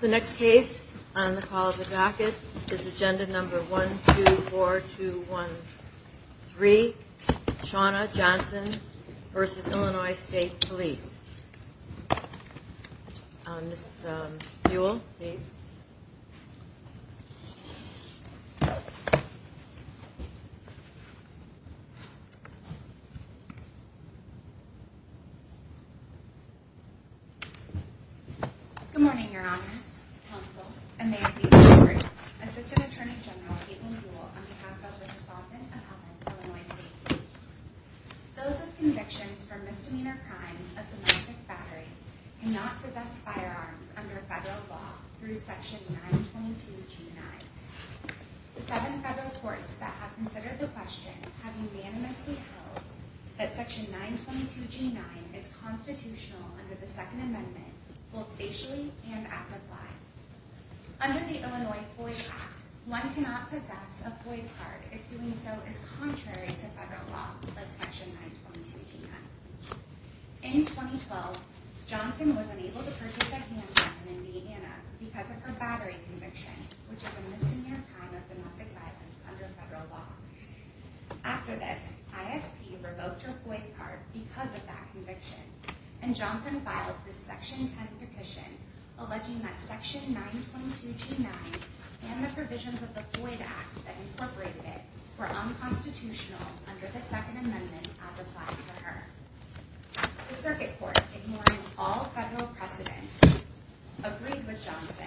The next case on the call of the jacket is agenda number 124213, Shawna Johnson v. Illinois State Police Ms. Buell, please Good morning, your honors, counsel, and may it please the jury, Assistant Attorney General Kaitlyn Buell on behalf of the Respondent of the Illinois State Police. Those with convictions for misdemeanor crimes of domestic battery cannot possess firearms under federal law through Section 922G9. The seven federal courts that have considered the question have unanimously held that Section 922G9 is constitutional under the Second Amendment, both facially and as applied. Under the Illinois FOID Act, one cannot possess a FOID card if doing so is contrary to federal law, like Section 922G9. In 2012, Johnson was unable to purchase a handgun in Indiana because of her battery conviction, which is a misdemeanor crime of domestic violence under federal law. After this, ISP revoked her FOID card because of that conviction, and Johnson filed the Section 10 petition alleging that Section 922G9 and the provisions of the FOID Act that incorporated it were unconstitutional under the Second Amendment as applied to her. The circuit court, ignoring all federal precedent, agreed with Johnson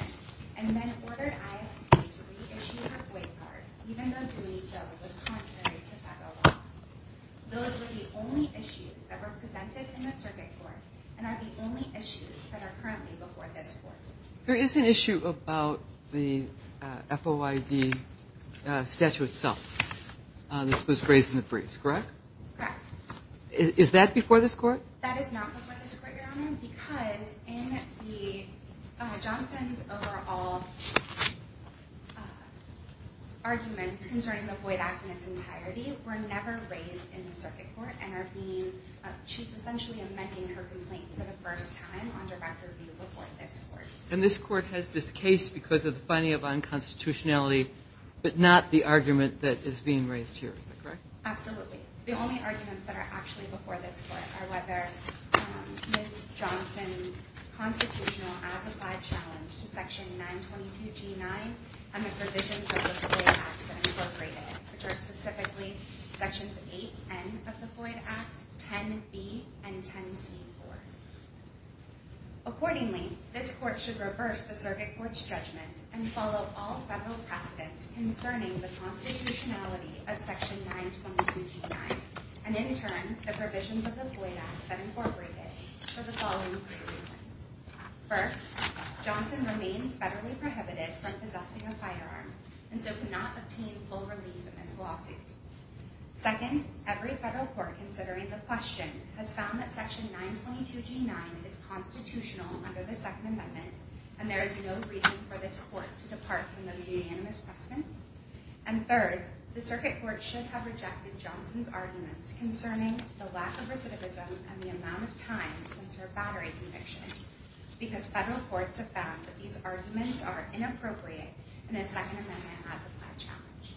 and then ordered ISP to reissue her FOID card even though doing so was contrary to federal law. Those were the only issues that were presented in the circuit court and are the only issues that are currently before this court. There is an issue about the FOID statute itself that was raised in the briefs, correct? Correct. Is that before this court? That is not before this court, Your Honor, because in Johnson's overall arguments concerning the FOID Act in its entirety were never raised in the circuit court. She's essentially amending her complaint for the first time on direct review before this court. And this court has this case because of the finding of unconstitutionality, but not the argument that is being raised here, is that correct? Absolutely. The only arguments that are actually before this court are whether Ms. Johnson's constitutional as-applied challenge to Section 922G9 and the provisions of the FOID Act that incorporated it, which are specifically Sections 8N of the FOID Act, 10B, and 10C4. Accordingly, this court should reverse the circuit court's judgment and follow all federal precedent concerning the constitutionality of Section 922G9, and in turn, the provisions of the FOID Act that incorporate it, for the following three reasons. First, Johnson remains federally prohibited from possessing a firearm and so cannot obtain full relief in this lawsuit. Second, every federal court considering the question has found that Section 922G9 is constitutional under the Second Amendment, and there is no reason for this court to depart from those unanimous precedents. And third, the circuit court should have rejected Johnson's arguments concerning the lack of recidivism and the amount of time since her battery conviction, because federal courts have found that these arguments are inappropriate and the Second Amendment as-applied challenge.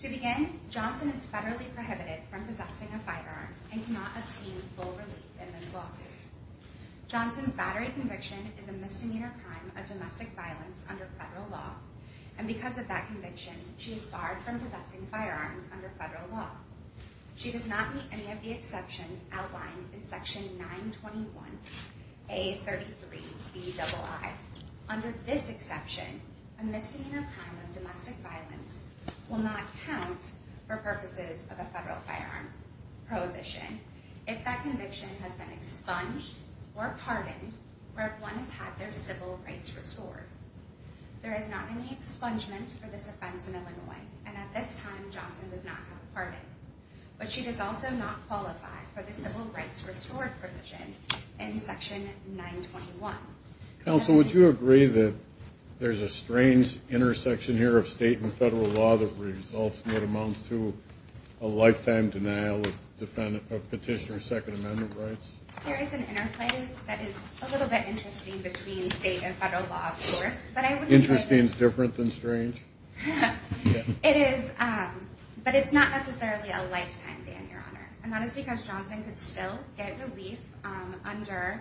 To begin, Johnson is federally prohibited from possessing a firearm and cannot obtain full relief in this lawsuit. Johnson's battery conviction is a misdemeanor crime of domestic violence under federal law, and because of that conviction, she is barred from possessing firearms under federal law. She does not meet any of the exceptions outlined in Section 921A33BII. Under this exception, a misdemeanor crime of domestic violence will not count for purposes of a federal firearm prohibition if that conviction has been expunged or pardoned or if one has had their civil rights restored. There is not any expungement for this offense in Illinois, and at this time, Johnson does not have a pardon. But she does also not qualify for the civil rights restored provision in Section 921. Counsel, would you agree that there's a strange intersection here of state and federal law that results in what amounts to a lifetime denial of petitioner's Second Amendment rights? There is an interplay that is a little bit interesting between state and federal law, of course. Interesting is different than strange? It is, but it's not necessarily a lifetime ban, Your Honor. And that is because Johnson could still get relief under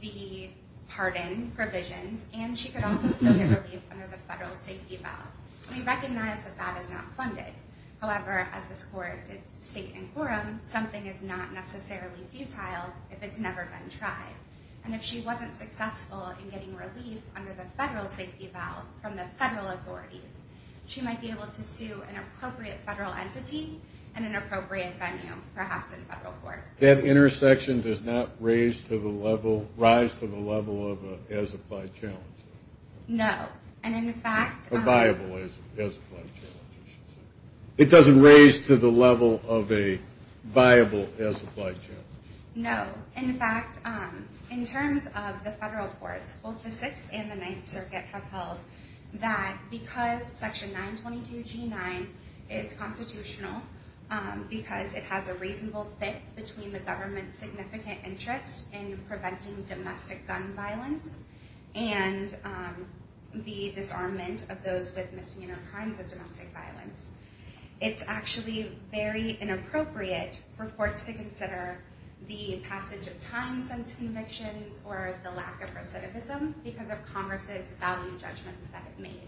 the pardon provisions, and she could also still get relief under the federal safety ballot. We recognize that that is not funded. However, as this Court did state in quorum, something is not necessarily futile if it's never been tried. And if she wasn't successful in getting relief under the federal safety ballot from the federal authorities, she might be able to sue an appropriate federal entity in an appropriate venue, perhaps in federal court. That intersection does not rise to the level of an as-applied challenge? No, and in fact – A viable as-applied challenge, you should say. It doesn't raise to the level of a viable as-applied challenge? No. In fact, in terms of the federal courts, both the Sixth and the Ninth Circuit have held that because Section 922G9 is constitutional, because it has a reasonable fit between the government's significant interest in preventing domestic gun violence and the disarmament of those with misdemeanor crimes of domestic violence, it's actually very inappropriate for courts to consider the passage of time-sensitive convictions or the lack of recidivism because of Congress's value judgments that it made.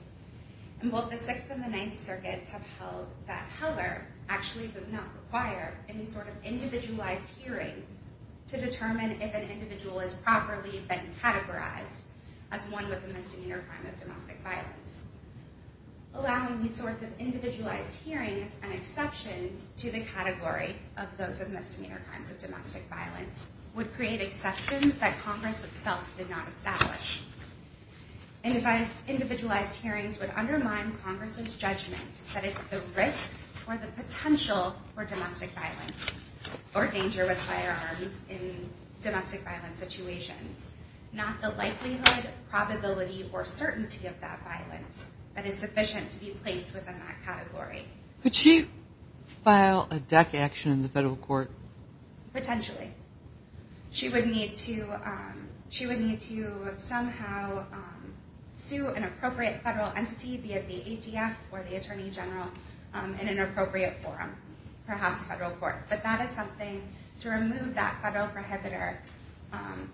And both the Sixth and the Ninth Circuits have held that Heller actually does not require any sort of individualized hearing to determine if an individual has properly been categorized as one with a misdemeanor crime of domestic violence. Allowing these sorts of individualized hearings and exceptions to the category of those with misdemeanor crimes of domestic violence would create exceptions that Congress itself did not establish. Individualized hearings would undermine Congress's judgment that it's the risk or the potential for domestic violence or danger with firearms in domestic violence situations, not the likelihood, probability, or certainty of that violence that is sufficient to be placed within that category. Could she file a DEC action in the federal court? Potentially. She would need to somehow sue an appropriate federal entity, be it the ATF or the Attorney General, in an appropriate forum, perhaps federal court. But that is something to remove that federal prohibitor.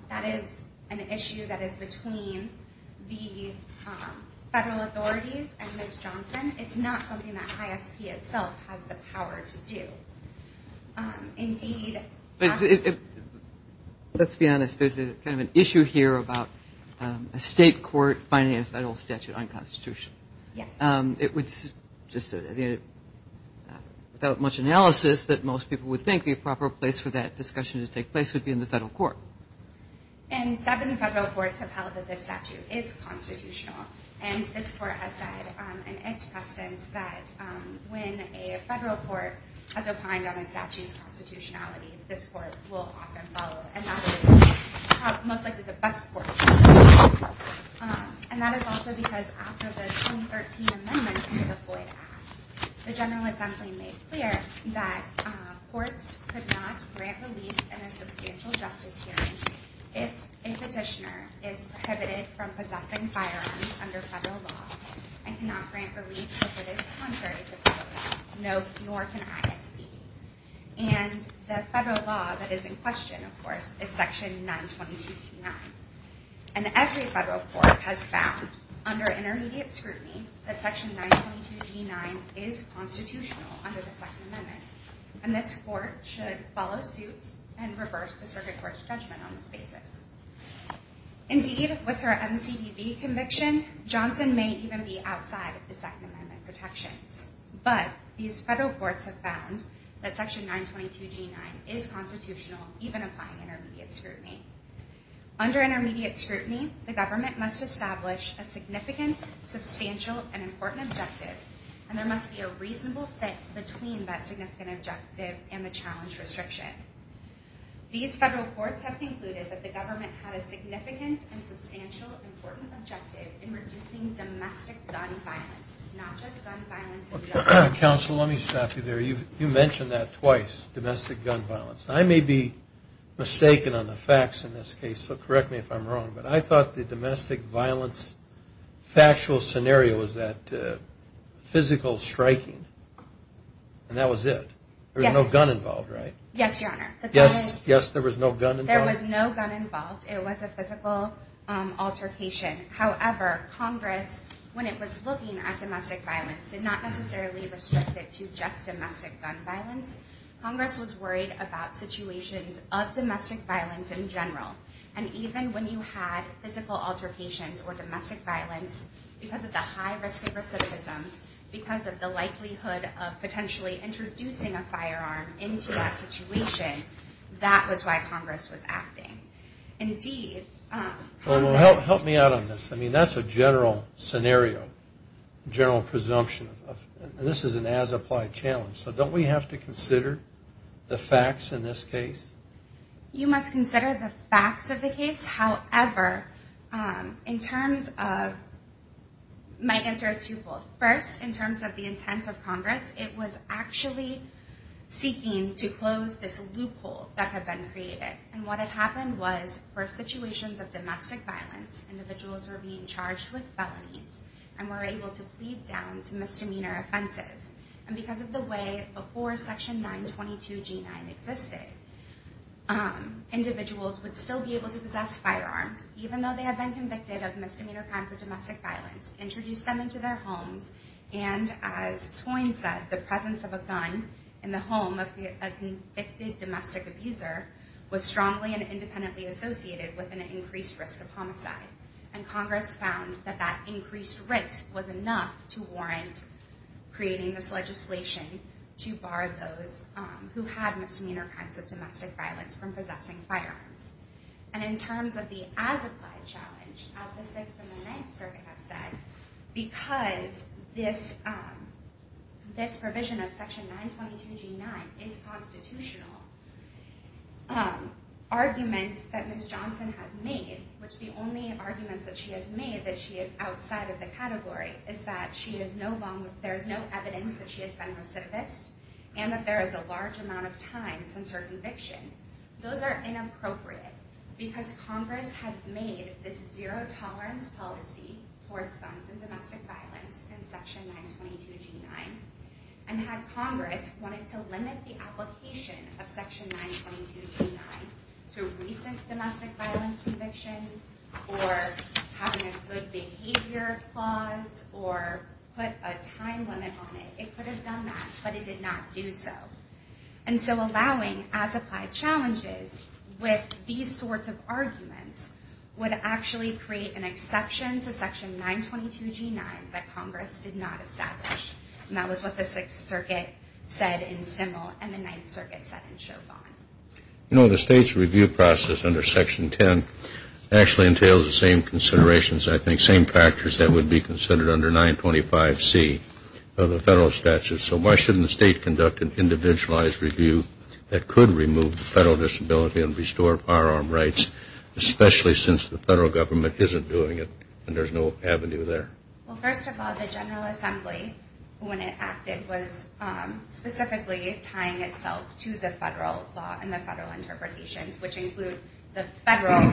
That is an issue that is between the federal authorities and Ms. Johnson. It's not something that ISP itself has the power to do. Indeed – Let's be honest. There's kind of an issue here about a state court finding a federal statute unconstitutional. Yes. It would, without much analysis, that most people would think the proper place for that discussion to take place would be in the federal court. And seven federal courts have held that this statute is constitutional. And this court has said in its past tense that when a federal court has opined on a statute's constitutionality, this court will often follow. And that is most likely the best course of action. And that is also because after the 2013 amendments to the Floyd Act, the General Assembly made clear that courts could not grant relief in a substantial justice hearing if a petitioner is prohibited from possessing firearms under federal law and cannot grant relief if it is contrary to federal law. Nor can ISP. And the federal law that is in question, of course, is Section 922.9. And every federal court has found, under intermediate scrutiny, that Section 922.9 is constitutional under the Second Amendment. And this court should follow suit and reverse the circuit court's judgment on this basis. Indeed, with her MCDB conviction, Johnson may even be outside of the Second Amendment protections. But these federal courts have found that Section 922.9 is constitutional, even applying intermediate scrutiny. Under intermediate scrutiny, the government must establish a significant, substantial, and important objective, and there must be a reasonable fit between that significant objective and the challenge restriction. These federal courts have concluded that the government had a significant and substantial, important objective in reducing domestic gun violence, not just gun violence in general. Counsel, let me stop you there. You mentioned that twice, domestic gun violence. I may be mistaken on the facts in this case, so correct me if I'm wrong, but I thought the domestic violence factual scenario was that physical striking, and that was it. There was no gun involved, right? Yes, Your Honor. Yes, there was no gun involved? There was no gun involved. It was a physical altercation. However, Congress, when it was looking at domestic violence, did not necessarily restrict it to just domestic gun violence. Congress was worried about situations of domestic violence in general, and even when you had physical altercations or domestic violence, because of the high risk of recidivism, because of the likelihood of potentially introducing a firearm into that situation, that was why Congress was acting. Indeed, Congress... Well, help me out on this. I mean, that's a general scenario, general presumption, and this is an as-applied challenge, so don't we have to consider the facts in this case? You must consider the facts of the case. However, in terms of...my answer is twofold. First, in terms of the intent of Congress, it was actually seeking to close this loophole that had been created, and what had happened was for situations of domestic violence, individuals were being charged with felonies and were able to plead down to misdemeanor offenses, and because of the way before Section 922 G9 existed, individuals would still be able to possess firearms, even though they had been convicted of misdemeanor crimes of domestic violence, introduce them into their homes, and as Swain said, the presence of a gun in the home of a convicted domestic abuser was strongly and independently associated with an increased risk of homicide, and Congress found that that increased risk was enough to warrant creating this legislation to bar those who had misdemeanor crimes of domestic violence from possessing firearms. And in terms of the as-applied challenge, as the Sixth and the Ninth Circuit have said, because this provision of Section 922 G9 is constitutional, arguments that Ms. Johnson has made, which the only arguments that she has made, that she is outside of the category, is that there is no evidence that she has been recidivist, and that there is a large amount of time since her conviction. Those are inappropriate, because Congress had made this zero-tolerance policy towards guns and domestic violence in Section 922 G9, and had Congress wanted to limit the application of Section 922 G9 to recent domestic violence convictions, or having a good behavior clause, or put a time limit on it, it could have done that, but it did not do so. And so allowing as-applied challenges with these sorts of arguments would actually create an exception to Section 922 G9 that Congress did not establish. And that was what the Sixth Circuit said in Stemmel, and the Ninth Circuit said in Chauvin. You know, the State's review process under Section 10 actually entails the same considerations, I think, same practice that would be considered under 925 C of the federal statute. So why shouldn't the State conduct an individualized review that could remove the federal disability and restore firearm rights, especially since the federal government isn't doing it, and there's no avenue there? Well, first of all, the General Assembly, when it acted, was specifically tying itself to the federal law and the federal interpretations, which include the federal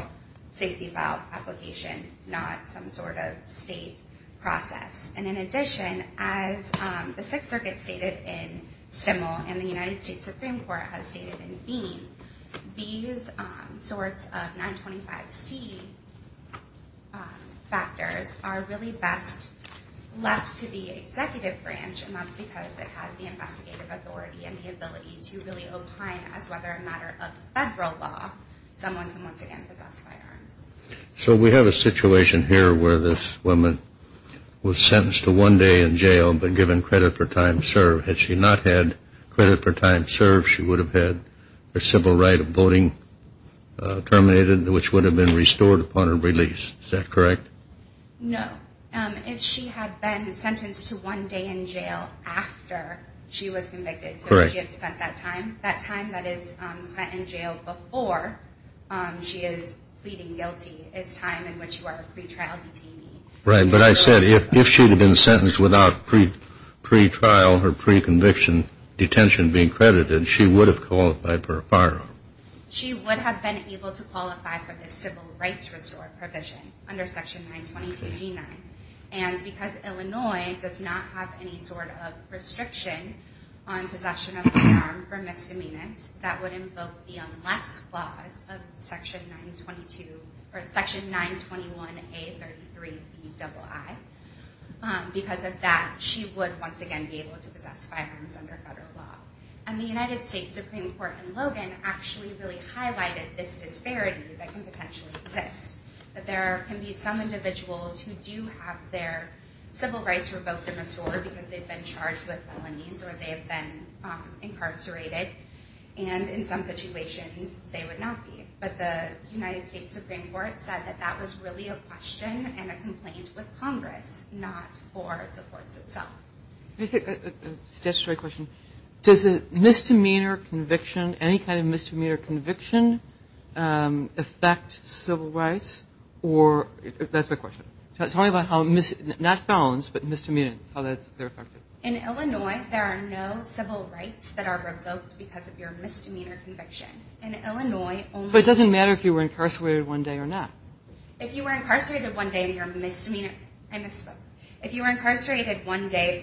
safety file application, not some sort of State process. And in addition, as the Sixth Circuit stated in Stemmel, and the United States Supreme Court has stated in Bean, these sorts of 925 C factors are really best left to the executive branch, and that's because it has the investigative authority and the ability to really opine as whether a matter of federal law someone can once again possess firearms. So we have a situation here where this woman was sentenced to one day in jail but given credit for time served. Had she not had credit for time served, she would have had her civil right of voting terminated, which would have been restored upon her release. Is that correct? No. If she had been sentenced to one day in jail after she was convicted, so she had spent that time, that time that is spent in jail before she is pleading guilty is time in which you are a pretrial detainee. Right. But I said if she had been sentenced without pretrial or preconviction detention being credited, she would have qualified for a firearm. She would have been able to qualify for the civil rights restore provision under Section 922G9. And because Illinois does not have any sort of restriction on possession of a firearm for misdemeanors, that would invoke the unless clause of Section 921A33BII. Because of that, she would once again be able to possess firearms under federal law. And the United States Supreme Court in Logan actually really highlighted this disparity that can potentially exist, that there can be some individuals who do have their civil rights revoked and restored because they've been charged with felonies or they have been incarcerated. And in some situations, they would not be. But the United States Supreme Court said that that was really a question and a complaint with Congress, not for the courts itself. Statutory question. Does a misdemeanor conviction, any kind of misdemeanor conviction, affect civil rights? That's my question. Tell me about how not felons, but misdemeanors, how that's affected. In Illinois, there are no civil rights that are revoked because of your misdemeanor conviction. In Illinois, only- So it doesn't matter if you were incarcerated one day or not? If you were incarcerated one day for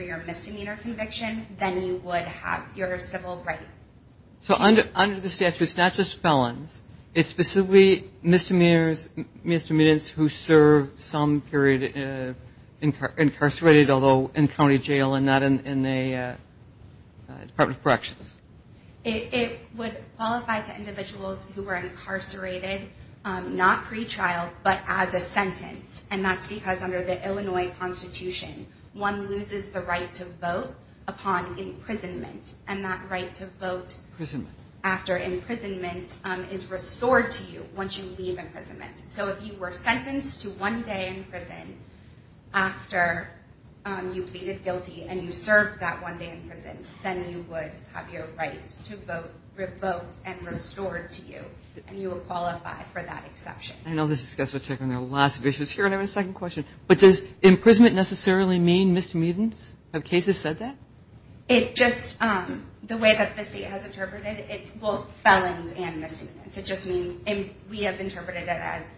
your misdemeanor conviction, then you would have your civil right. So under the statute, it's not just felons. It's specifically misdemeanors, misdemeanors who serve some period incarcerated, although in county jail and not in the Department of Corrections. It would qualify to individuals who were incarcerated, not pretrial, but as a sentence. And that's because under the Illinois Constitution, one loses the right to vote upon imprisonment. And that right to vote- Imprisonment. After imprisonment is restored to you once you leave imprisonment. So if you were sentenced to one day in prison after you pleaded guilty and you served that one day in prison, then you would have your right to vote revoked and restored to you. And you would qualify for that exception. And I'll just discuss or check on the last of the issues here. And I have a second question. But does imprisonment necessarily mean misdemeanors? Have cases said that? It just- the way that the state has interpreted it, it's both felons and misdemeanors. It just means- we have interpreted it as-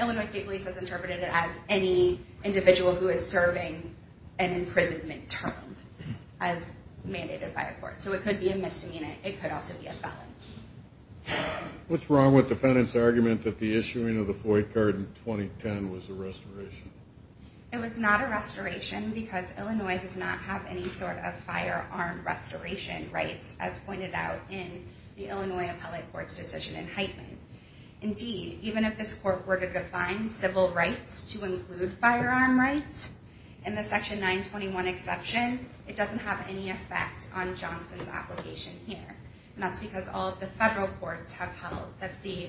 Illinois State Police has interpreted it as any individual who is serving an imprisonment term as mandated by a court. So it could be a misdemeanor. It could also be a felon. What's wrong with the defendant's argument that the issuing of the Floyd card in 2010 was a restoration? It was not a restoration because Illinois does not have any sort of firearm restoration rights, as pointed out in the Illinois Appellate Court's decision in Heitman. Indeed, even if this court were to define civil rights to include firearm rights, in the Section 921 exception, it doesn't have any effect on Johnson's application here. And that's because all of the federal courts have held that the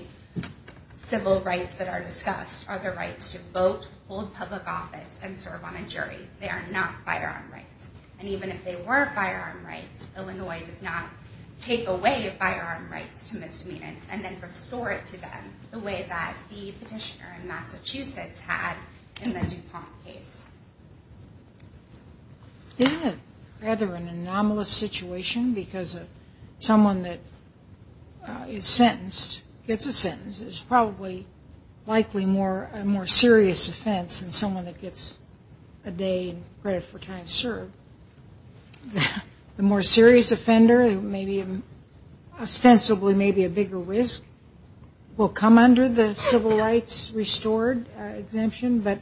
civil rights that are discussed are the rights to vote, hold public office, and serve on a jury. They are not firearm rights. And even if they were firearm rights, Illinois does not take away firearm rights to misdemeanors and then restore it to them the way that the petitioner in Massachusetts had in the DuPont case. Isn't it rather an anomalous situation? Because someone that is sentenced, gets a sentence, is probably likely a more serious offense than someone that gets a day in credit for time served. The more serious offender, ostensibly maybe a bigger risk, will come under the civil rights restored exemption. But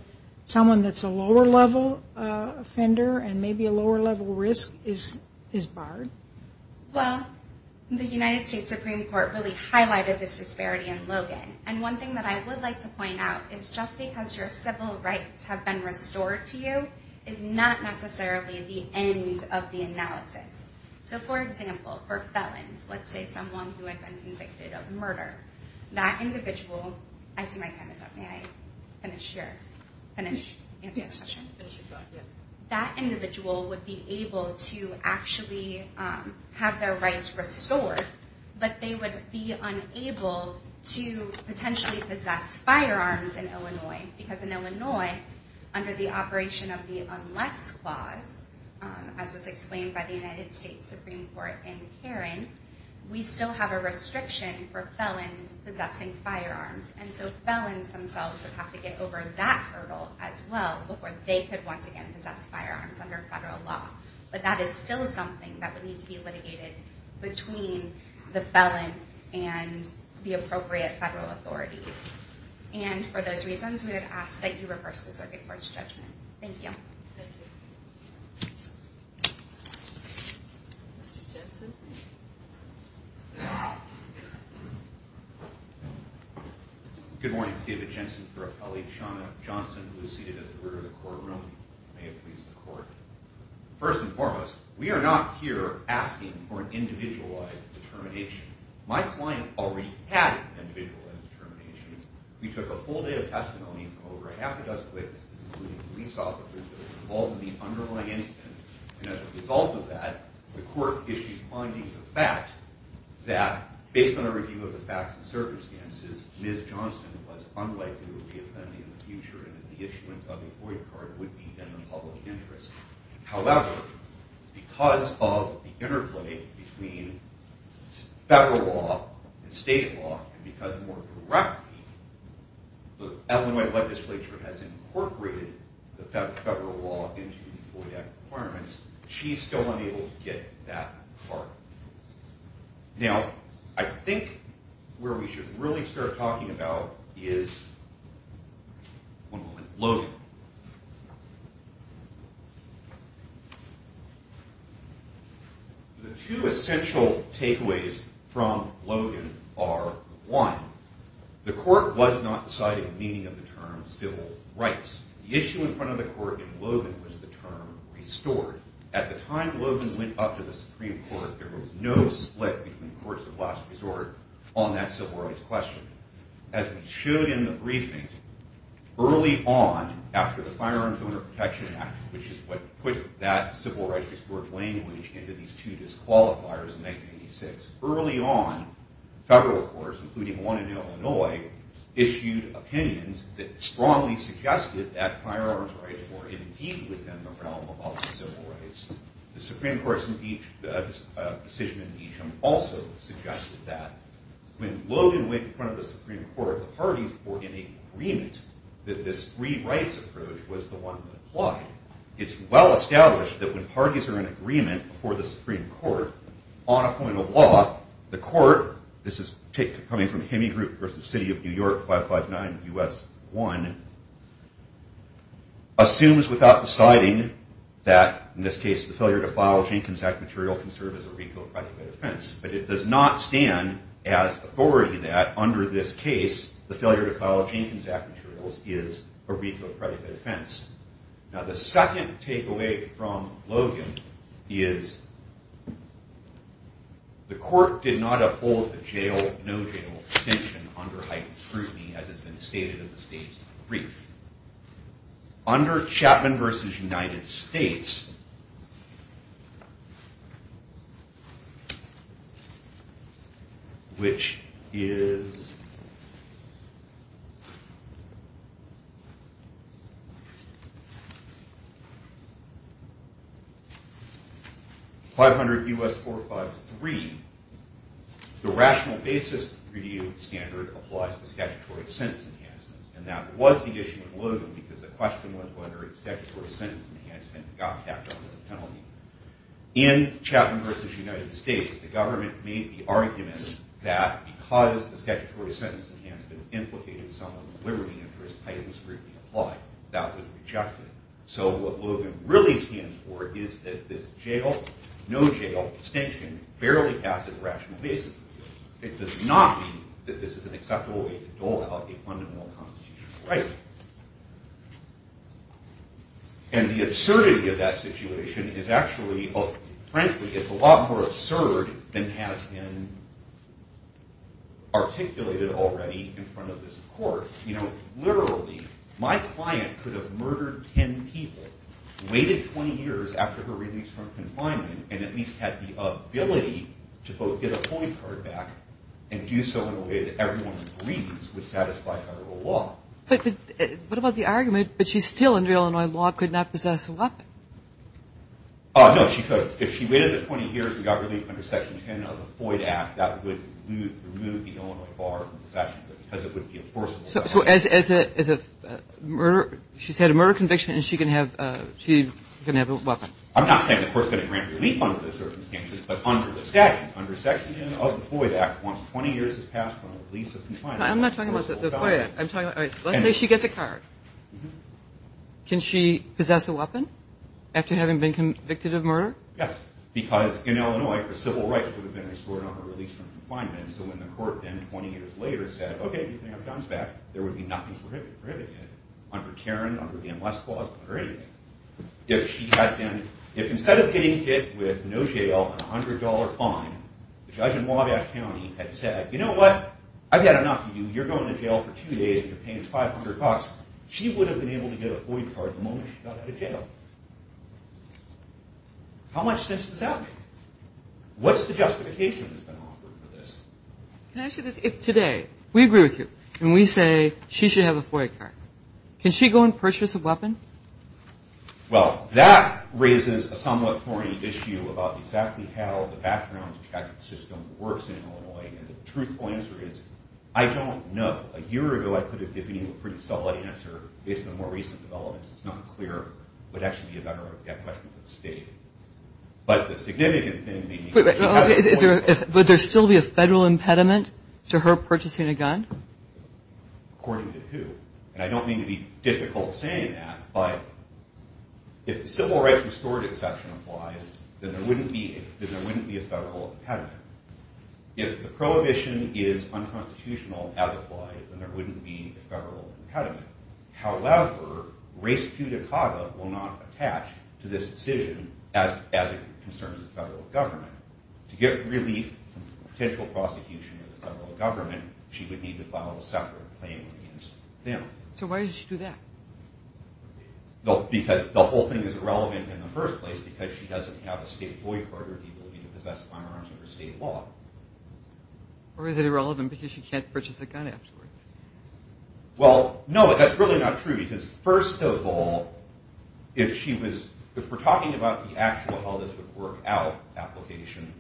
someone that's a lower level offender and maybe a lower level risk is barred. Well, the United States Supreme Court really highlighted this disparity in Logan. And one thing that I would like to point out is just because your civil rights have been restored to you is not necessarily the end of the analysis. So, for example, for felons, let's say someone who had been convicted of murder, that individual would be able to actually have their rights restored, but they would be unable to potentially possess firearms in Illinois. Because in Illinois, under the operation of the Unless Clause, as was explained by the United States Supreme Court in Karen, we still have a restriction for felons possessing firearms. And so felons themselves would have to get over that hurdle as well before they could once again possess firearms under federal law. But that is still something that would need to be litigated between the felon and the appropriate federal authorities. And for those reasons, we would ask that you reverse the Circuit Court's judgment. Thank you. Thank you. Mr. Jensen, please. Good morning. David Jensen for Appellee Shawna Johnson, who is seated at the rear of the courtroom. May it please the Court. First and foremost, we are not here asking for an individualized determination. My client already had an individualized determination. We took a full day of testimony from over half a dozen witnesses, including police officers that were involved in the underlying incident. And as a result of that, the Court issued findings of fact that, based on a review of the facts and circumstances, Ms. Johnson was unlikely to be a felony in the future and that the issuance of the avoid card would be in the public interest. However, because of the interplay between federal law and state law, and because, more correctly, the Illinois legislature has incorporated the federal law into the FOIA requirements, she is still unable to get that card. Now, I think where we should really start talking about is, one moment, Logan. The two essential takeaways from Logan are, one, the Court was not deciding the meaning of the term civil rights. The issue in front of the Court in Logan was the term restored. At the time Logan went up to the Supreme Court, there was no split between courts of last resort on that civil rights question. As we showed in the briefing, early on, after the Firearms Owner Protection Act, which is what put that civil rights restored language into these two disqualifiers in 1986, early on, federal courts, including one in Illinois, issued opinions that strongly suggested that firearms rights were indeed within the realm of civil rights. The Supreme Court's decision in Beecham also suggested that. When Logan went in front of the Supreme Court, the parties were in agreement that this free rights approach was the one that applied. It's well established that when parties are in agreement before the Supreme Court, on a point of law, the Court, this is coming from Hemingroup versus City of New York, 559 U.S. 1, assumes without deciding that, in this case, the failure to file a chain contact material can serve as a recalibrated offense. But it does not stand as authority that, under this case, the failure to file chain contact materials is a recalibrated offense. Now, the second takeaway from Logan is the Court did not uphold the jail-no-jail extension under heightened scrutiny, as has been stated in the state's brief. Under Chapman versus United States, which is 500 U.S. 453, the rational basis review standard applies to statutory sentence enhancements. And that was the issue of Logan, because the question was whether a statutory sentence enhancement got capped under the penalty. In Chapman versus United States, the government made the argument that because the statutory sentence enhancement implicated someone with liberty interests, heightened scrutiny applied. That was rejected. So what Logan really stands for is that this jail-no-jail extension barely passes rational basis review. It does not mean that this is an acceptable way to dole out a fundamental constitutional right. And the absurdity of that situation is actually, frankly, it's a lot more absurd than has been articulated already in front of this Court. You know, literally, my client could have murdered 10 people, waited 20 years after her release from confinement, and at least had the ability to both get a point card back and do so in a way that everyone agrees would satisfy federal law. But what about the argument that she's still under Illinois law but could not possess a weapon? No, she could. If she waited 20 years and got relief under Section 10 of the Floyd Act, that would remove the Illinois bar from possession because it would be enforceable. So she's had a murder conviction and she can have a weapon. I'm not saying the Court's going to grant relief under those circumstances, but under the statute, under Section 10 of the Floyd Act, once 20 years has passed from the release of confinement. I'm not talking about the Floyd Act. Let's say she gets a card. Can she possess a weapon after having been convicted of murder? Yes, because in Illinois, the civil rights would have been restored on her release from confinement. So when the Court then 20 years later said, okay, you can have John's back, there would be nothing prohibitive under Tarrant, under the M. West Clause, or anything. If instead of getting hit with no jail and a $100 fine, the judge in Wabash County had said, you know what? I've had enough of you. You're going to jail for two days and you're paying us 500 bucks. She would have been able to get a Floyd card the moment she got out of jail. How much sense does that make? What's the justification that's been offered for this? Can I ask you this? If today we agree with you and we say she should have a Floyd card, can she go and purchase a weapon? Well, that raises a somewhat thorny issue about exactly how the background check system works in Illinois. And the truthful answer is, I don't know. A year ago, I could have given you a pretty solid answer. Based on more recent developments, it's not clear. It would actually be a better question for the state. But the significant thing may be that she has a Floyd card. Would there still be a federal impediment to her purchasing a gun? According to who? And I don't mean to be difficult in saying that, but if the Civil Rights Restored Exception applies, then there wouldn't be a federal impediment. If the prohibition is unconstitutional as applied, then there wouldn't be a federal impediment. However, race judicata will not attach to this decision as it concerns the federal government. To get relief from the potential prosecution of the federal government, she would need to file a separate claim against them. So why did she do that? Because the whole thing is irrelevant in the first place because she doesn't have a state Floyd card or the ability to possess firearms under state law. Or is it irrelevant because she can't purchase a gun afterwards? Well, no, but that's really not true because first of all, if we're talking about the actual how this would work out application,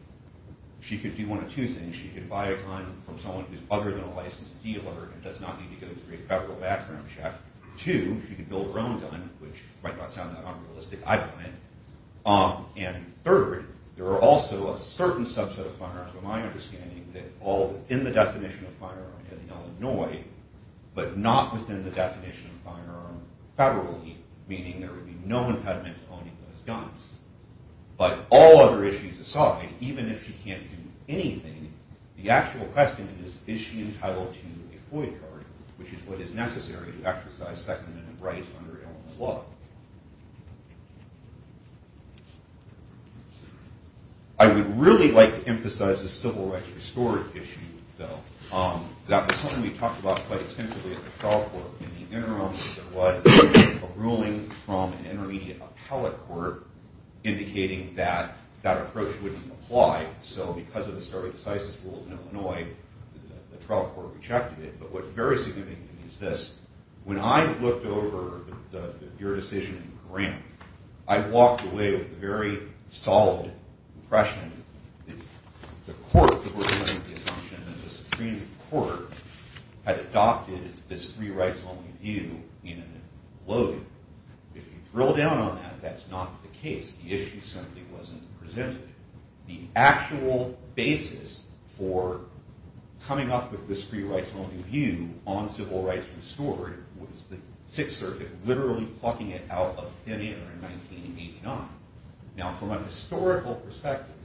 she could do one of two things. One, she could buy a gun from someone who's other than a licensed dealer and does not need to go through a federal background check. Two, she could build her own gun, which might not sound that unrealistic. I've done it. And third, there are also a certain subset of firearms, to my understanding, that all within the definition of firearm in Illinois, but not within the definition of firearm federally, meaning there would be no impediment to owning those guns. But all other issues aside, even if she can't do anything, the actual question is, is she entitled to a Floyd card, which is what is necessary to exercise second-minute rights under Illinois law. I would really like to emphasize the civil rights restorative issue, though. That was something we talked about quite extensively at the trial court in the interim. There was a ruling from an intermediate appellate court indicating that that approach wouldn't apply. So because of the start of the CISIS rules in Illinois, the trial court rejected it. But what's very significant is this. When I looked over your decision in Grant, I walked away with a very solid impression that the court, because we're coming up with the assumption that the Supreme Court had adopted this three-rights-only view in Logan. If you drill down on that, that's not the case. The issue certainly wasn't presented. The actual basis for coming up with this three-rights-only view on civil rights restorative was the Sixth Circuit literally plucking it out of thin air in 1989. Now, from a historical perspective,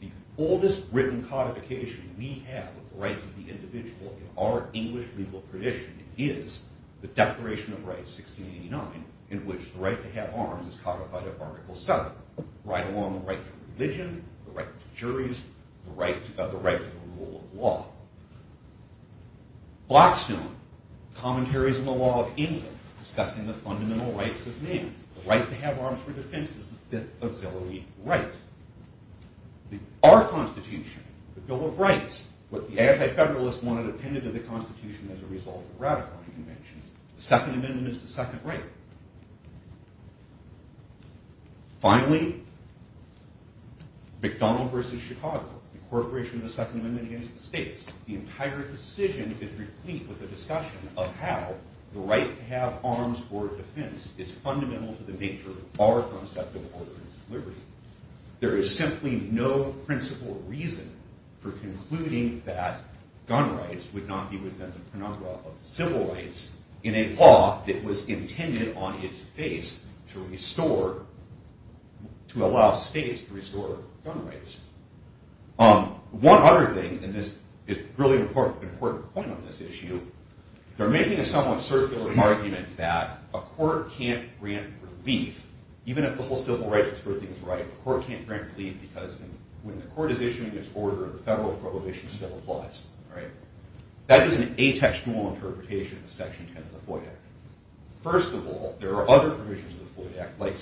the oldest written codification we have of the rights of the individual in our English legal tradition is the Declaration of Rights, 1689, in which the right to have arms is codified in Article VII, right along the right to religion, the right to juries, the right to the rule of law. Blackstone commentaries on the law of England discussing the fundamental rights of men. The right to have arms for defense is the fifth auxiliary right. Our Constitution, the Bill of Rights, what the anti-federalists wanted appended to the Constitution as a result of ratifying conventions. The Second Amendment is the second right. Finally, McDonald v. Chicago, the incorporation of the Second Amendment against the states. The entire decision is replete with a discussion of how the right to have arms for defense is fundamental to the nature of our concept of order and liberty. There is simply no principal reason for concluding that gun rights would not be within the penumbra of civil rights in a law that was intended on its face to allow states to restore gun rights. One other thing, and this is a really important point on this issue, they're making a somewhat circular argument that a court can't grant relief, even if the whole civil rights thing is right, a court can't grant relief because when the court is issuing its order, the federal prohibition still applies. That is an atextual interpretation of Section 10 of the FOIA Act. First of all, there are other provisions of the FOIA Act, like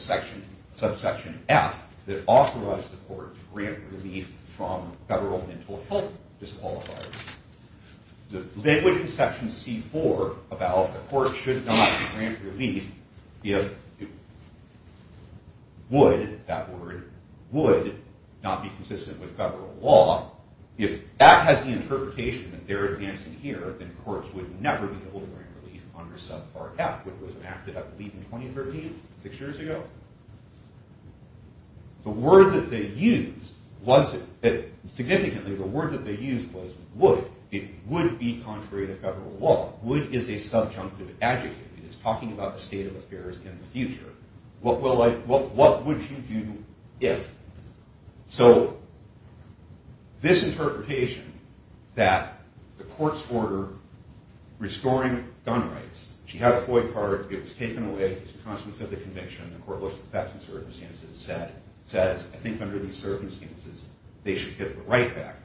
Subsection F, that authorize the court to grant relief from federal mental health disqualifiers. They would, in Section C-4, about a court should not grant relief if it would, that word, would not be consistent with federal law. If that has the interpretation that they're advancing here, then courts would never be able to grant relief under Subpart F, which was enacted, I believe, in 2013, six years ago. The word that they used was, significantly, the word that they used was would. It would be contrary to federal law. Would is a subjunctive adjective. It's talking about the state of affairs in the future. What would you do if? So this interpretation, that the court's order restoring gun rights, she had a FOIA card, it was taken away, it's a consequence of the conviction, the court looks at the facts and circumstances, and says, I think under these circumstances, they should get the right back.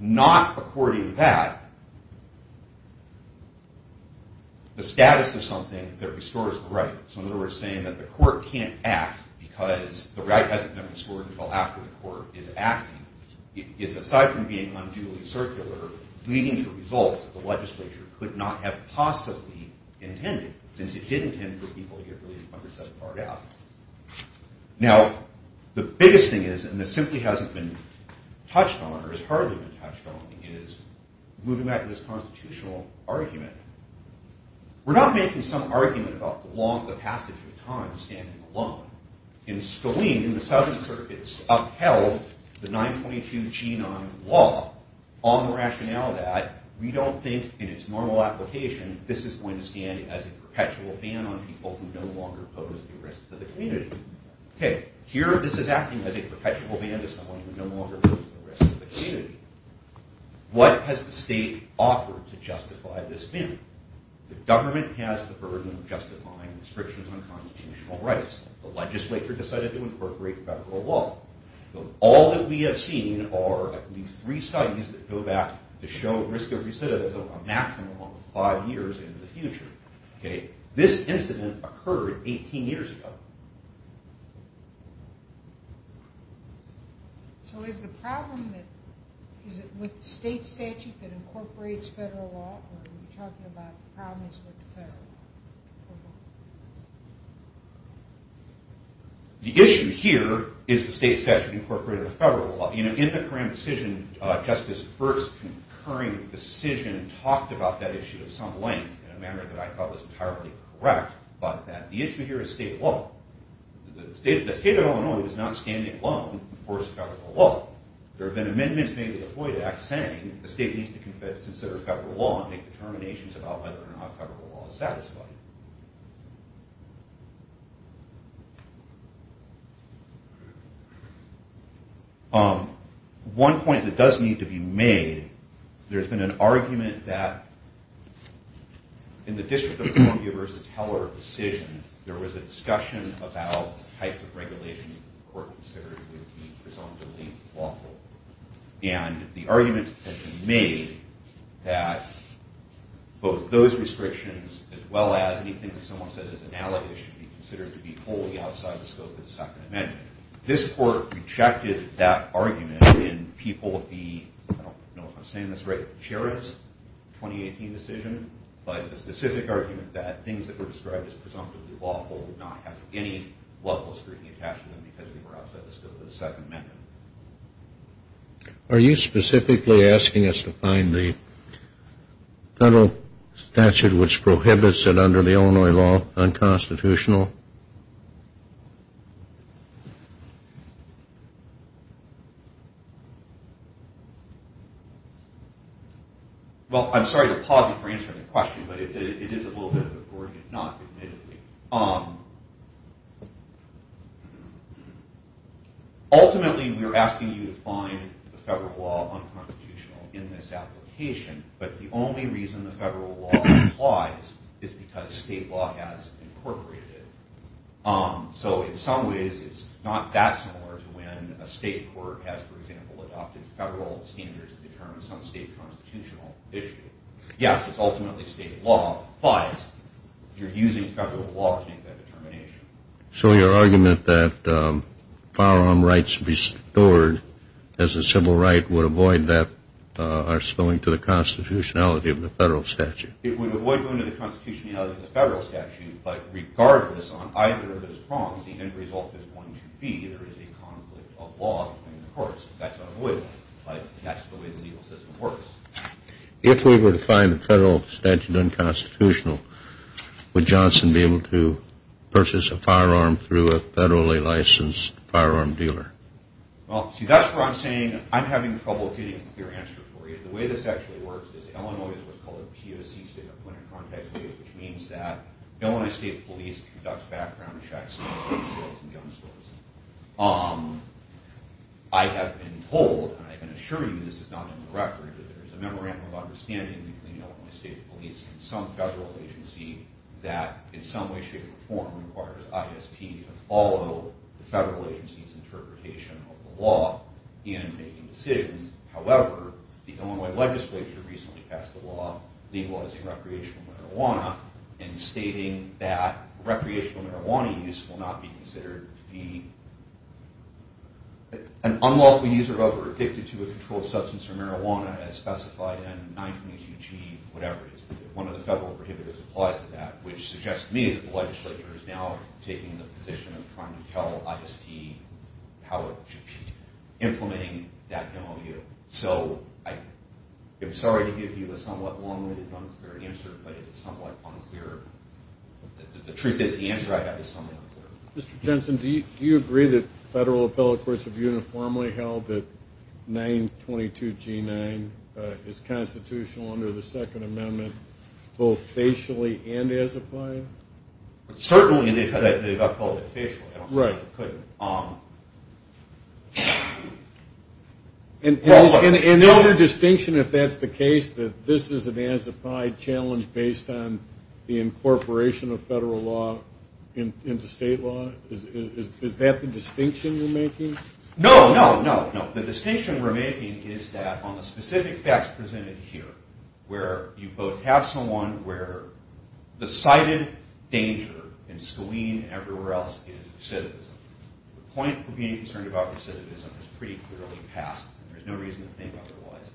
Not according to that, the status of something that restores the right, so in other words, saying that the court can't act because the right hasn't been restored until after the court is acting, is, aside from being unduly circular, leading to results that the legislature could not have possibly intended, since it did intend for people to get released when they're set apart out. Now, the biggest thing is, and this simply hasn't been touched on, or has hardly been touched on, is, moving back to this constitutional argument, we're not making some argument about the passage of time standing alone. In Scalene, in the Southern Circuits, upheld the 922-G9 law, on the rationale that we don't think, in its normal application, this is going to stand as a perpetual ban on people who no longer pose a risk to the community. Here, this is acting as a perpetual ban to someone who no longer poses a risk to the community. What has the state offered to justify this ban? The government has the burden of justifying restrictions on constitutional rights. The legislature decided to incorporate federal law. All that we have seen are at least three studies that go back to show risk of recidivism a maximum of five years into the future. This incident occurred 18 years ago. The issue here is the state statute incorporated federal law. In the Coram decision, Justice's first concurring decision talked about that issue of some length in a manner that I thought was entirely correct, but that the issue here is state law. The state of Illinois was not standing alone before its federal law. There have been amendments made to the Floyd Act saying the state needs to consider federal law and make determinations about whether or not federal law is satisfying. One point that does need to be made, there's been an argument that in the District of Columbia versus Heller decision, there was a discussion about the types of regulations that the court considered would be presumptively lawful. And the argument has been made that both those restrictions, as well as the federal law, as anything that someone says is analogous should be considered to be wholly outside the scope of the Second Amendment. This court rejected that argument in people of the, I don't know if I'm saying this right, Sherriff's 2018 decision, but the specific argument that things that were described as presumptively lawful would not have any level of scrutiny attached to them because they were outside the scope of the Second Amendment. Are you specifically asking us to find the federal statute which prohibits it under the Illinois law unconstitutional? Well, I'm sorry to pause you for answering the question, but it is a little bit of a gory hit, not admittedly. Ultimately, we're asking you to find the federal law unconstitutional in this application, but the only reason the federal law applies is because state law has incorporated it. So in some ways, it's not that similar to when a state court has, for example, adopted federal standards to determine some state constitutional issue. Yes, it's ultimately state law, but you're using federal law to make that determination. So your argument that firearm rights restored as a civil right are spilling to the constitutionality of the federal statute? It would avoid going to the constitutionality of the federal statute, but regardless, on either of those prongs, the end result is going to be there is a conflict of law between the courts. That's what I'm avoiding. That's the way the legal system works. If we were to find the federal statute unconstitutional, would Johnson be able to purchase a firearm through a federally licensed firearm dealer? Well, see, that's where I'm saying I'm having trouble getting a clear answer for you. The way this actually works is, Illinois is what's called a POC, which means that Illinois State Police conducts background checks on gun sales and gun stores. I have been told, and I can assure you this is not in the record, but there's a memorandum of understanding between Illinois State Police and some federal agency that in some way, shape, or form requires ISP to follow the federal agency's interpretation of the law in making decisions. However, the Illinois legislature recently passed a law legalizing recreational marijuana and stating that recreational marijuana use will not be considered to be an unlawful use or other addicted to a controlled substance or marijuana as specified in 922G, whatever it is. One of the federal prohibitors applies to that, which suggests to me that the legislature is now taking the position of trying to tell ISP how it should be implementing that MOU. So, I'm sorry to give you a somewhat long-winded, unclear answer, but it's somewhat unclear. The truth is, the answer I have is somewhat unclear. Mr. Jensen, do you agree that federal appellate courts have uniformly held that 922G9 is constitutional under the Second Amendment, both facially and as a plan? Certainly, they've upheld it facially. I don't say they couldn't. And no other distinction, if that's the case, that this is an as-applied challenge based on the incorporation of federal law into state law? Is that the distinction you're making? No, no, no. The distinction we're making is that on the specific facts presented here, where you both have someone where the cited danger in Skalene and everywhere else is recidivism. The point for being concerned about recidivism is pretty clearly passed, and there's no reason to think otherwise.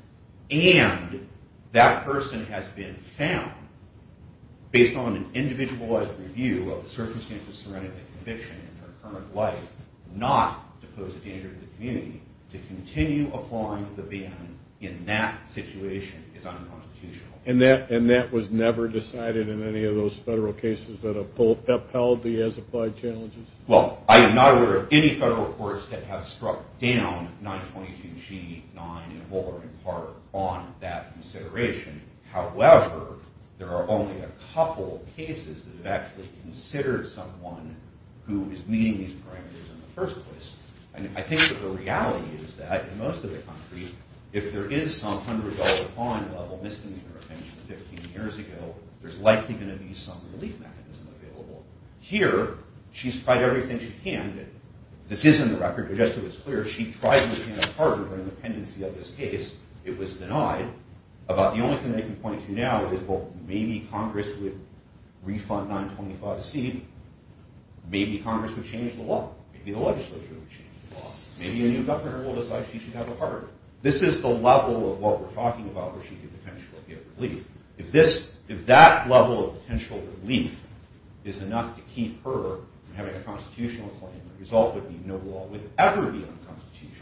And that person has been found, based on an individualized review of the circumstances surrounding the conviction in her current life, not to pose a danger to the community. To continue applying the ban in that situation is unconstitutional. And that was never decided in any of those federal cases that upheld the as-applied challenges? Well, I am not aware of any federal courts that have struck down 922G9 in part on that consideration. However, there are only a couple cases that have actually considered someone who is meeting these parameters in the first place. And I think that the reality is that in most of the country, if there is some $100 fine level misdemeanor offense 15 years ago, there's likely going to be some relief mechanism available. Here, she's tried everything she can. This is in the record, but just so it's clear, she tried to obtain a pardon for independency of this case. It was denied. The only thing I can point to now is, well, maybe Congress would refund 925C. Maybe Congress would change the law. Maybe the legislature would change the law. Maybe a new governor will decide she should have a pardon. This is the level of what we're talking about where she could potentially get relief. If that level of potential relief is enough to keep her from having a constitutional claim, the result would be no law would ever be unconstitutional.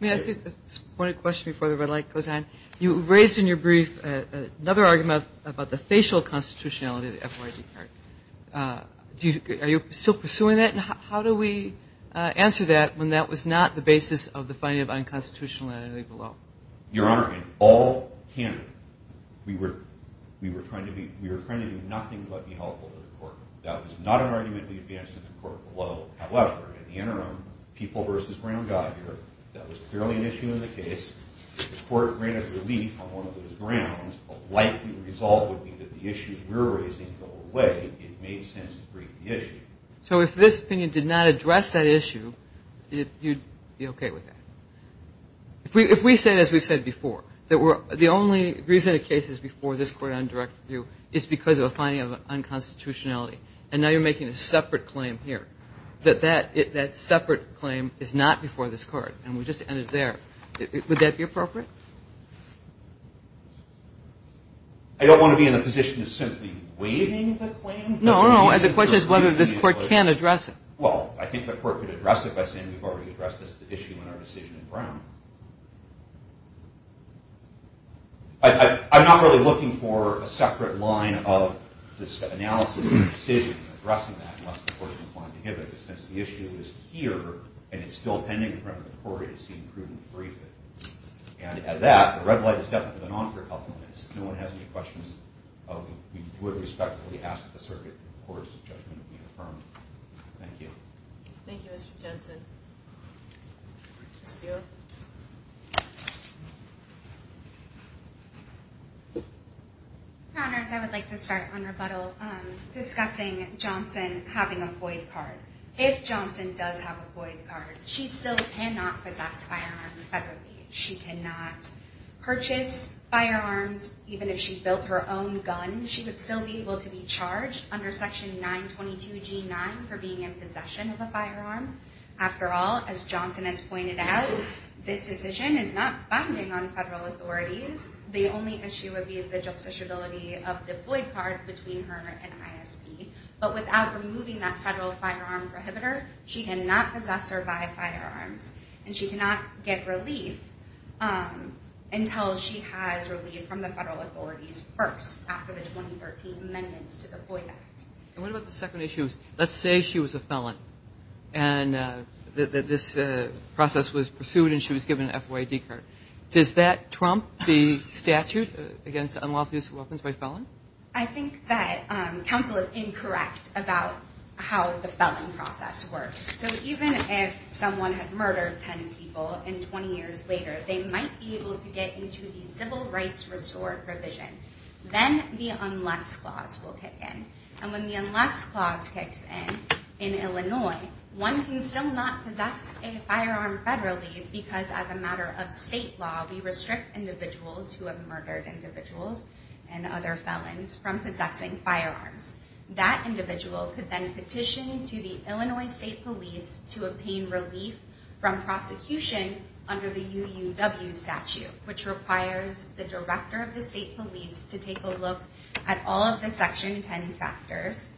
May I ask you a point of question before the red light goes on? You raised in your brief another argument about the facial constitutionality of the FYP card. Are you still pursuing that? How do we answer that when that was not the basis of the finding of unconstitutionality below? Your Honor, in all candidate, we were trying to do nothing but be helpful to the court. That was not an argument we advanced in the court below. However, in the interim, people versus ground got here. That was clearly an issue in the case. If the court granted relief on one of those grounds, a likely result would be that the issues we're raising go away. It made sense to brief the issue. So if this opinion did not address that issue, you'd be okay with that? If we say, as we've said before, that the only reason the case is before this court on direct review is because of a finding of unconstitutionality, and now you're making a separate claim here, that that separate claim is not before this court, and we just ended there, would that be appropriate? I don't want to be in the position of simply waiving the claim. No, no, and the question is whether this court can address it. Well, I think the court could address it by saying we've already addressed this issue in our decision in Brown. I'm not really looking for a separate line of this analysis and decision in addressing that unless the court is inclined to give it, since the issue is here and it's still pending in front of the court in order to see a prudent briefing. And at that, the red light has definitely been on for a couple of minutes. If no one has any questions, we would respectfully ask that the circuit and the court's judgment be affirmed. Thank you. Thank you, Mr. Johnson. Your Honors, I would like to start on rebuttal, discussing Johnson having a void card. If Johnson does have a void card, she still cannot possess firearms federally. She cannot purchase firearms even if she built her own gun. She would still be able to be charged under Section 922G9 for being in possession of a firearm. After all, as Johnson has pointed out, this decision is not binding on federal authorities. The only issue would be the justiciability of the void card between her and ISP. But without removing that federal firearm prohibitor, she cannot possess or buy firearms. And she cannot get relief until she has relief from the federal authorities first, after the 2013 amendments to the Void Act. And what about the second issue? Let's say she was a felon and that this process was pursued and she was given a FOID card. Does that trump the statute against unlawful use of weapons by a felon? I think that counsel is incorrect about how the felon process works. So even if someone had murdered 10 people and 20 years later, they might be able to get into the Civil Rights Restored provision. Then the Unless Clause will kick in. And when the Unless Clause kicks in in Illinois, one can still not possess a firearm federally because as a matter of state law, we restrict individuals who have murdered individuals and other felons from possessing firearms. That individual could then petition to the Illinois State Police to obtain relief from prosecution under the UUW statute, which requires the Director of the State Police to take a look at all of the Section 10 factors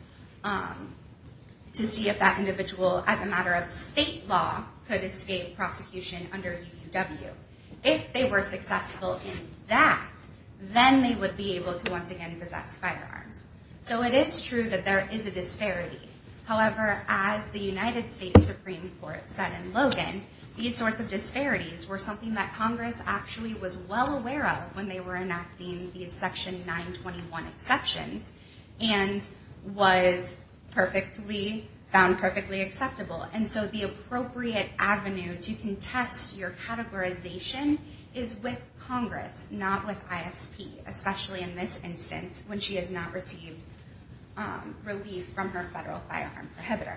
to see if that individual, as a matter of state law, could escape prosecution under UUW. If they were successful in that, then they would be able to once again possess firearms. So it is true that there is a disparity. However, as the United States Supreme Court said in Logan, these sorts of disparities were something that Congress actually was well aware of when they were enacting these Section 921 exceptions and was found perfectly acceptable. And so the appropriate avenues you can test your categorization is with Congress, not with ISP, especially in this instance, when she has not received relief from her federal firearm prohibitor.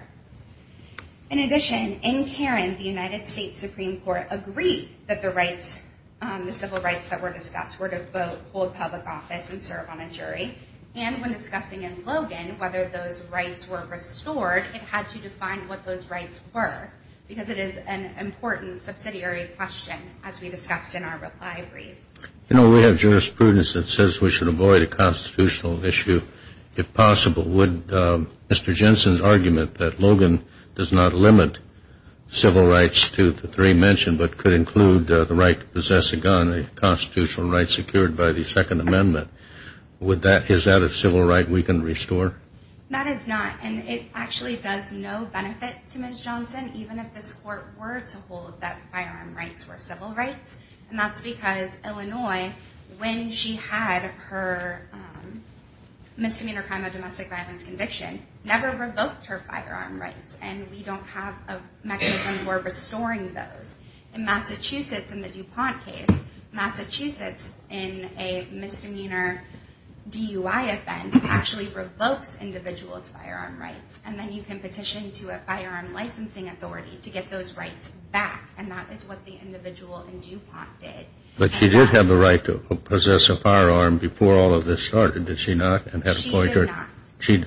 In addition, in Karen, the United States Supreme Court agreed that the rights, the civil rights that were discussed, were to vote, hold public office, and serve on a jury. And when discussing in Logan whether those rights were restored, it had to define what those rights were because it is an important subsidiary question as we discussed in our reply brief. You know, we have jurisprudence that says we should avoid a constitutional issue if possible. Would Mr. Jensen's argument that Logan does not limit civil rights to the three mentioned but could include the right to possess a gun, a constitutional right secured by the Second Amendment, is that a civil right we can restore? That is not. And it actually does no benefit to Ms. Johnson, even if this Court were to hold that firearm rights were civil rights. Ms. Johnson in Illinois, when she had her misdemeanor crime of domestic violence conviction, never revoked her firearm rights. And we don't have a mechanism for restoring those. In Massachusetts, in the DuPont case, Massachusetts in a misdemeanor DUI offense actually revokes individuals' firearm rights. And then you can petition to a firearm licensing authority to get those rights back. And that is what the individual in DuPont did. But she did have the right to possess a firearm before all of this started, did she not? She did not.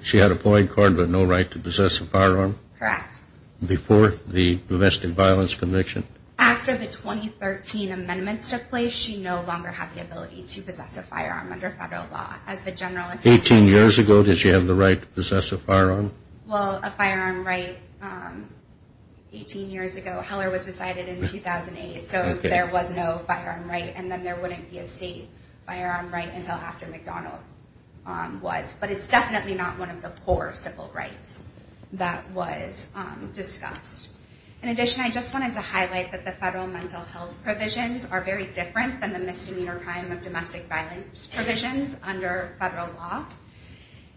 She had a ploy in court with no right to possess a firearm? Correct. Before the domestic violence conviction? After the 2013 amendments took place, she no longer had the ability to possess a firearm under federal law. As the generalist... 18 years ago, did she have the right to possess a firearm? Well, a firearm right... 18 years ago. Heller was decided in 2008, so there was no firearm right. And then there wouldn't be a state firearm right until after McDonald was. But it's definitely not one of the core civil rights that was discussed. In addition, I just wanted to highlight that the federal mental health provisions are very different than the misdemeanor crime of domestic violence provisions under federal law.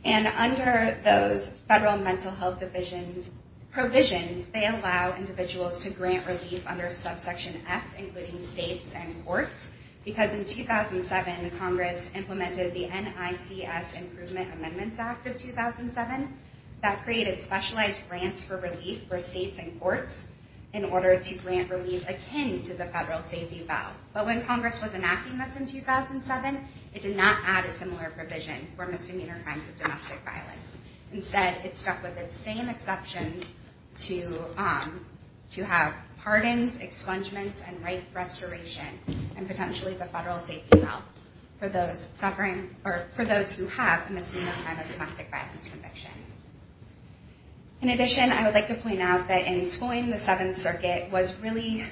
And under those federal mental health divisions provisions, they allow individuals to grant relief under subsection F, including states and courts, because in 2007 Congress implemented the NICS Improvement Amendments Act of 2007 that created specialized grants for relief for states and courts in order to grant relief akin to the federal safety vow. But when Congress was enacting this in 2007, it did not add a similar provision for misdemeanor crimes of domestic violence. Instead, it stuck with the same exceptions to have pardons, expungements, and rape restoration, and potentially the federal safety vow for those suffering, or for those who have a misdemeanor crime of domestic violence conviction. In addition, I would like to point out that in Schoen, the Seventh Circuit was really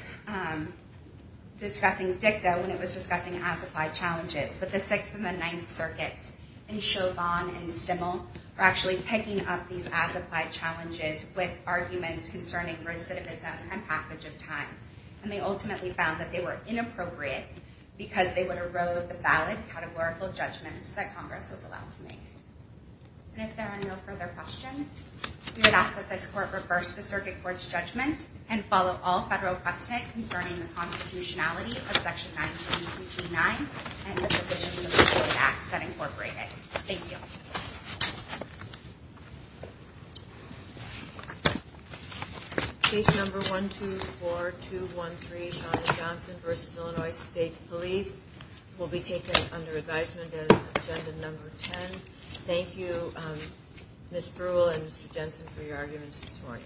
discussing DICTA when it was discussing classified challenges. But the Sixth and the Ninth Circuits in Chauvin and Stimmel were actually picking up these as-applied challenges with arguments concerning recidivism and passage of time. And they ultimately found that they were inappropriate because they would erode the valid, categorical judgments that Congress was allowed to make. And if there are no further questions, we would ask that this Court reverse the Circuit Court's judgment and follow all federal precedent concerning the constitutionality of Section 192G9 and the provisions of the Constitution. Thank you. Case number 124213, Johnson v. Illinois State Police will be taken under advisement as agenda number 10. Thank you Ms. Brule and Mr. Jensen for your arguments this morning.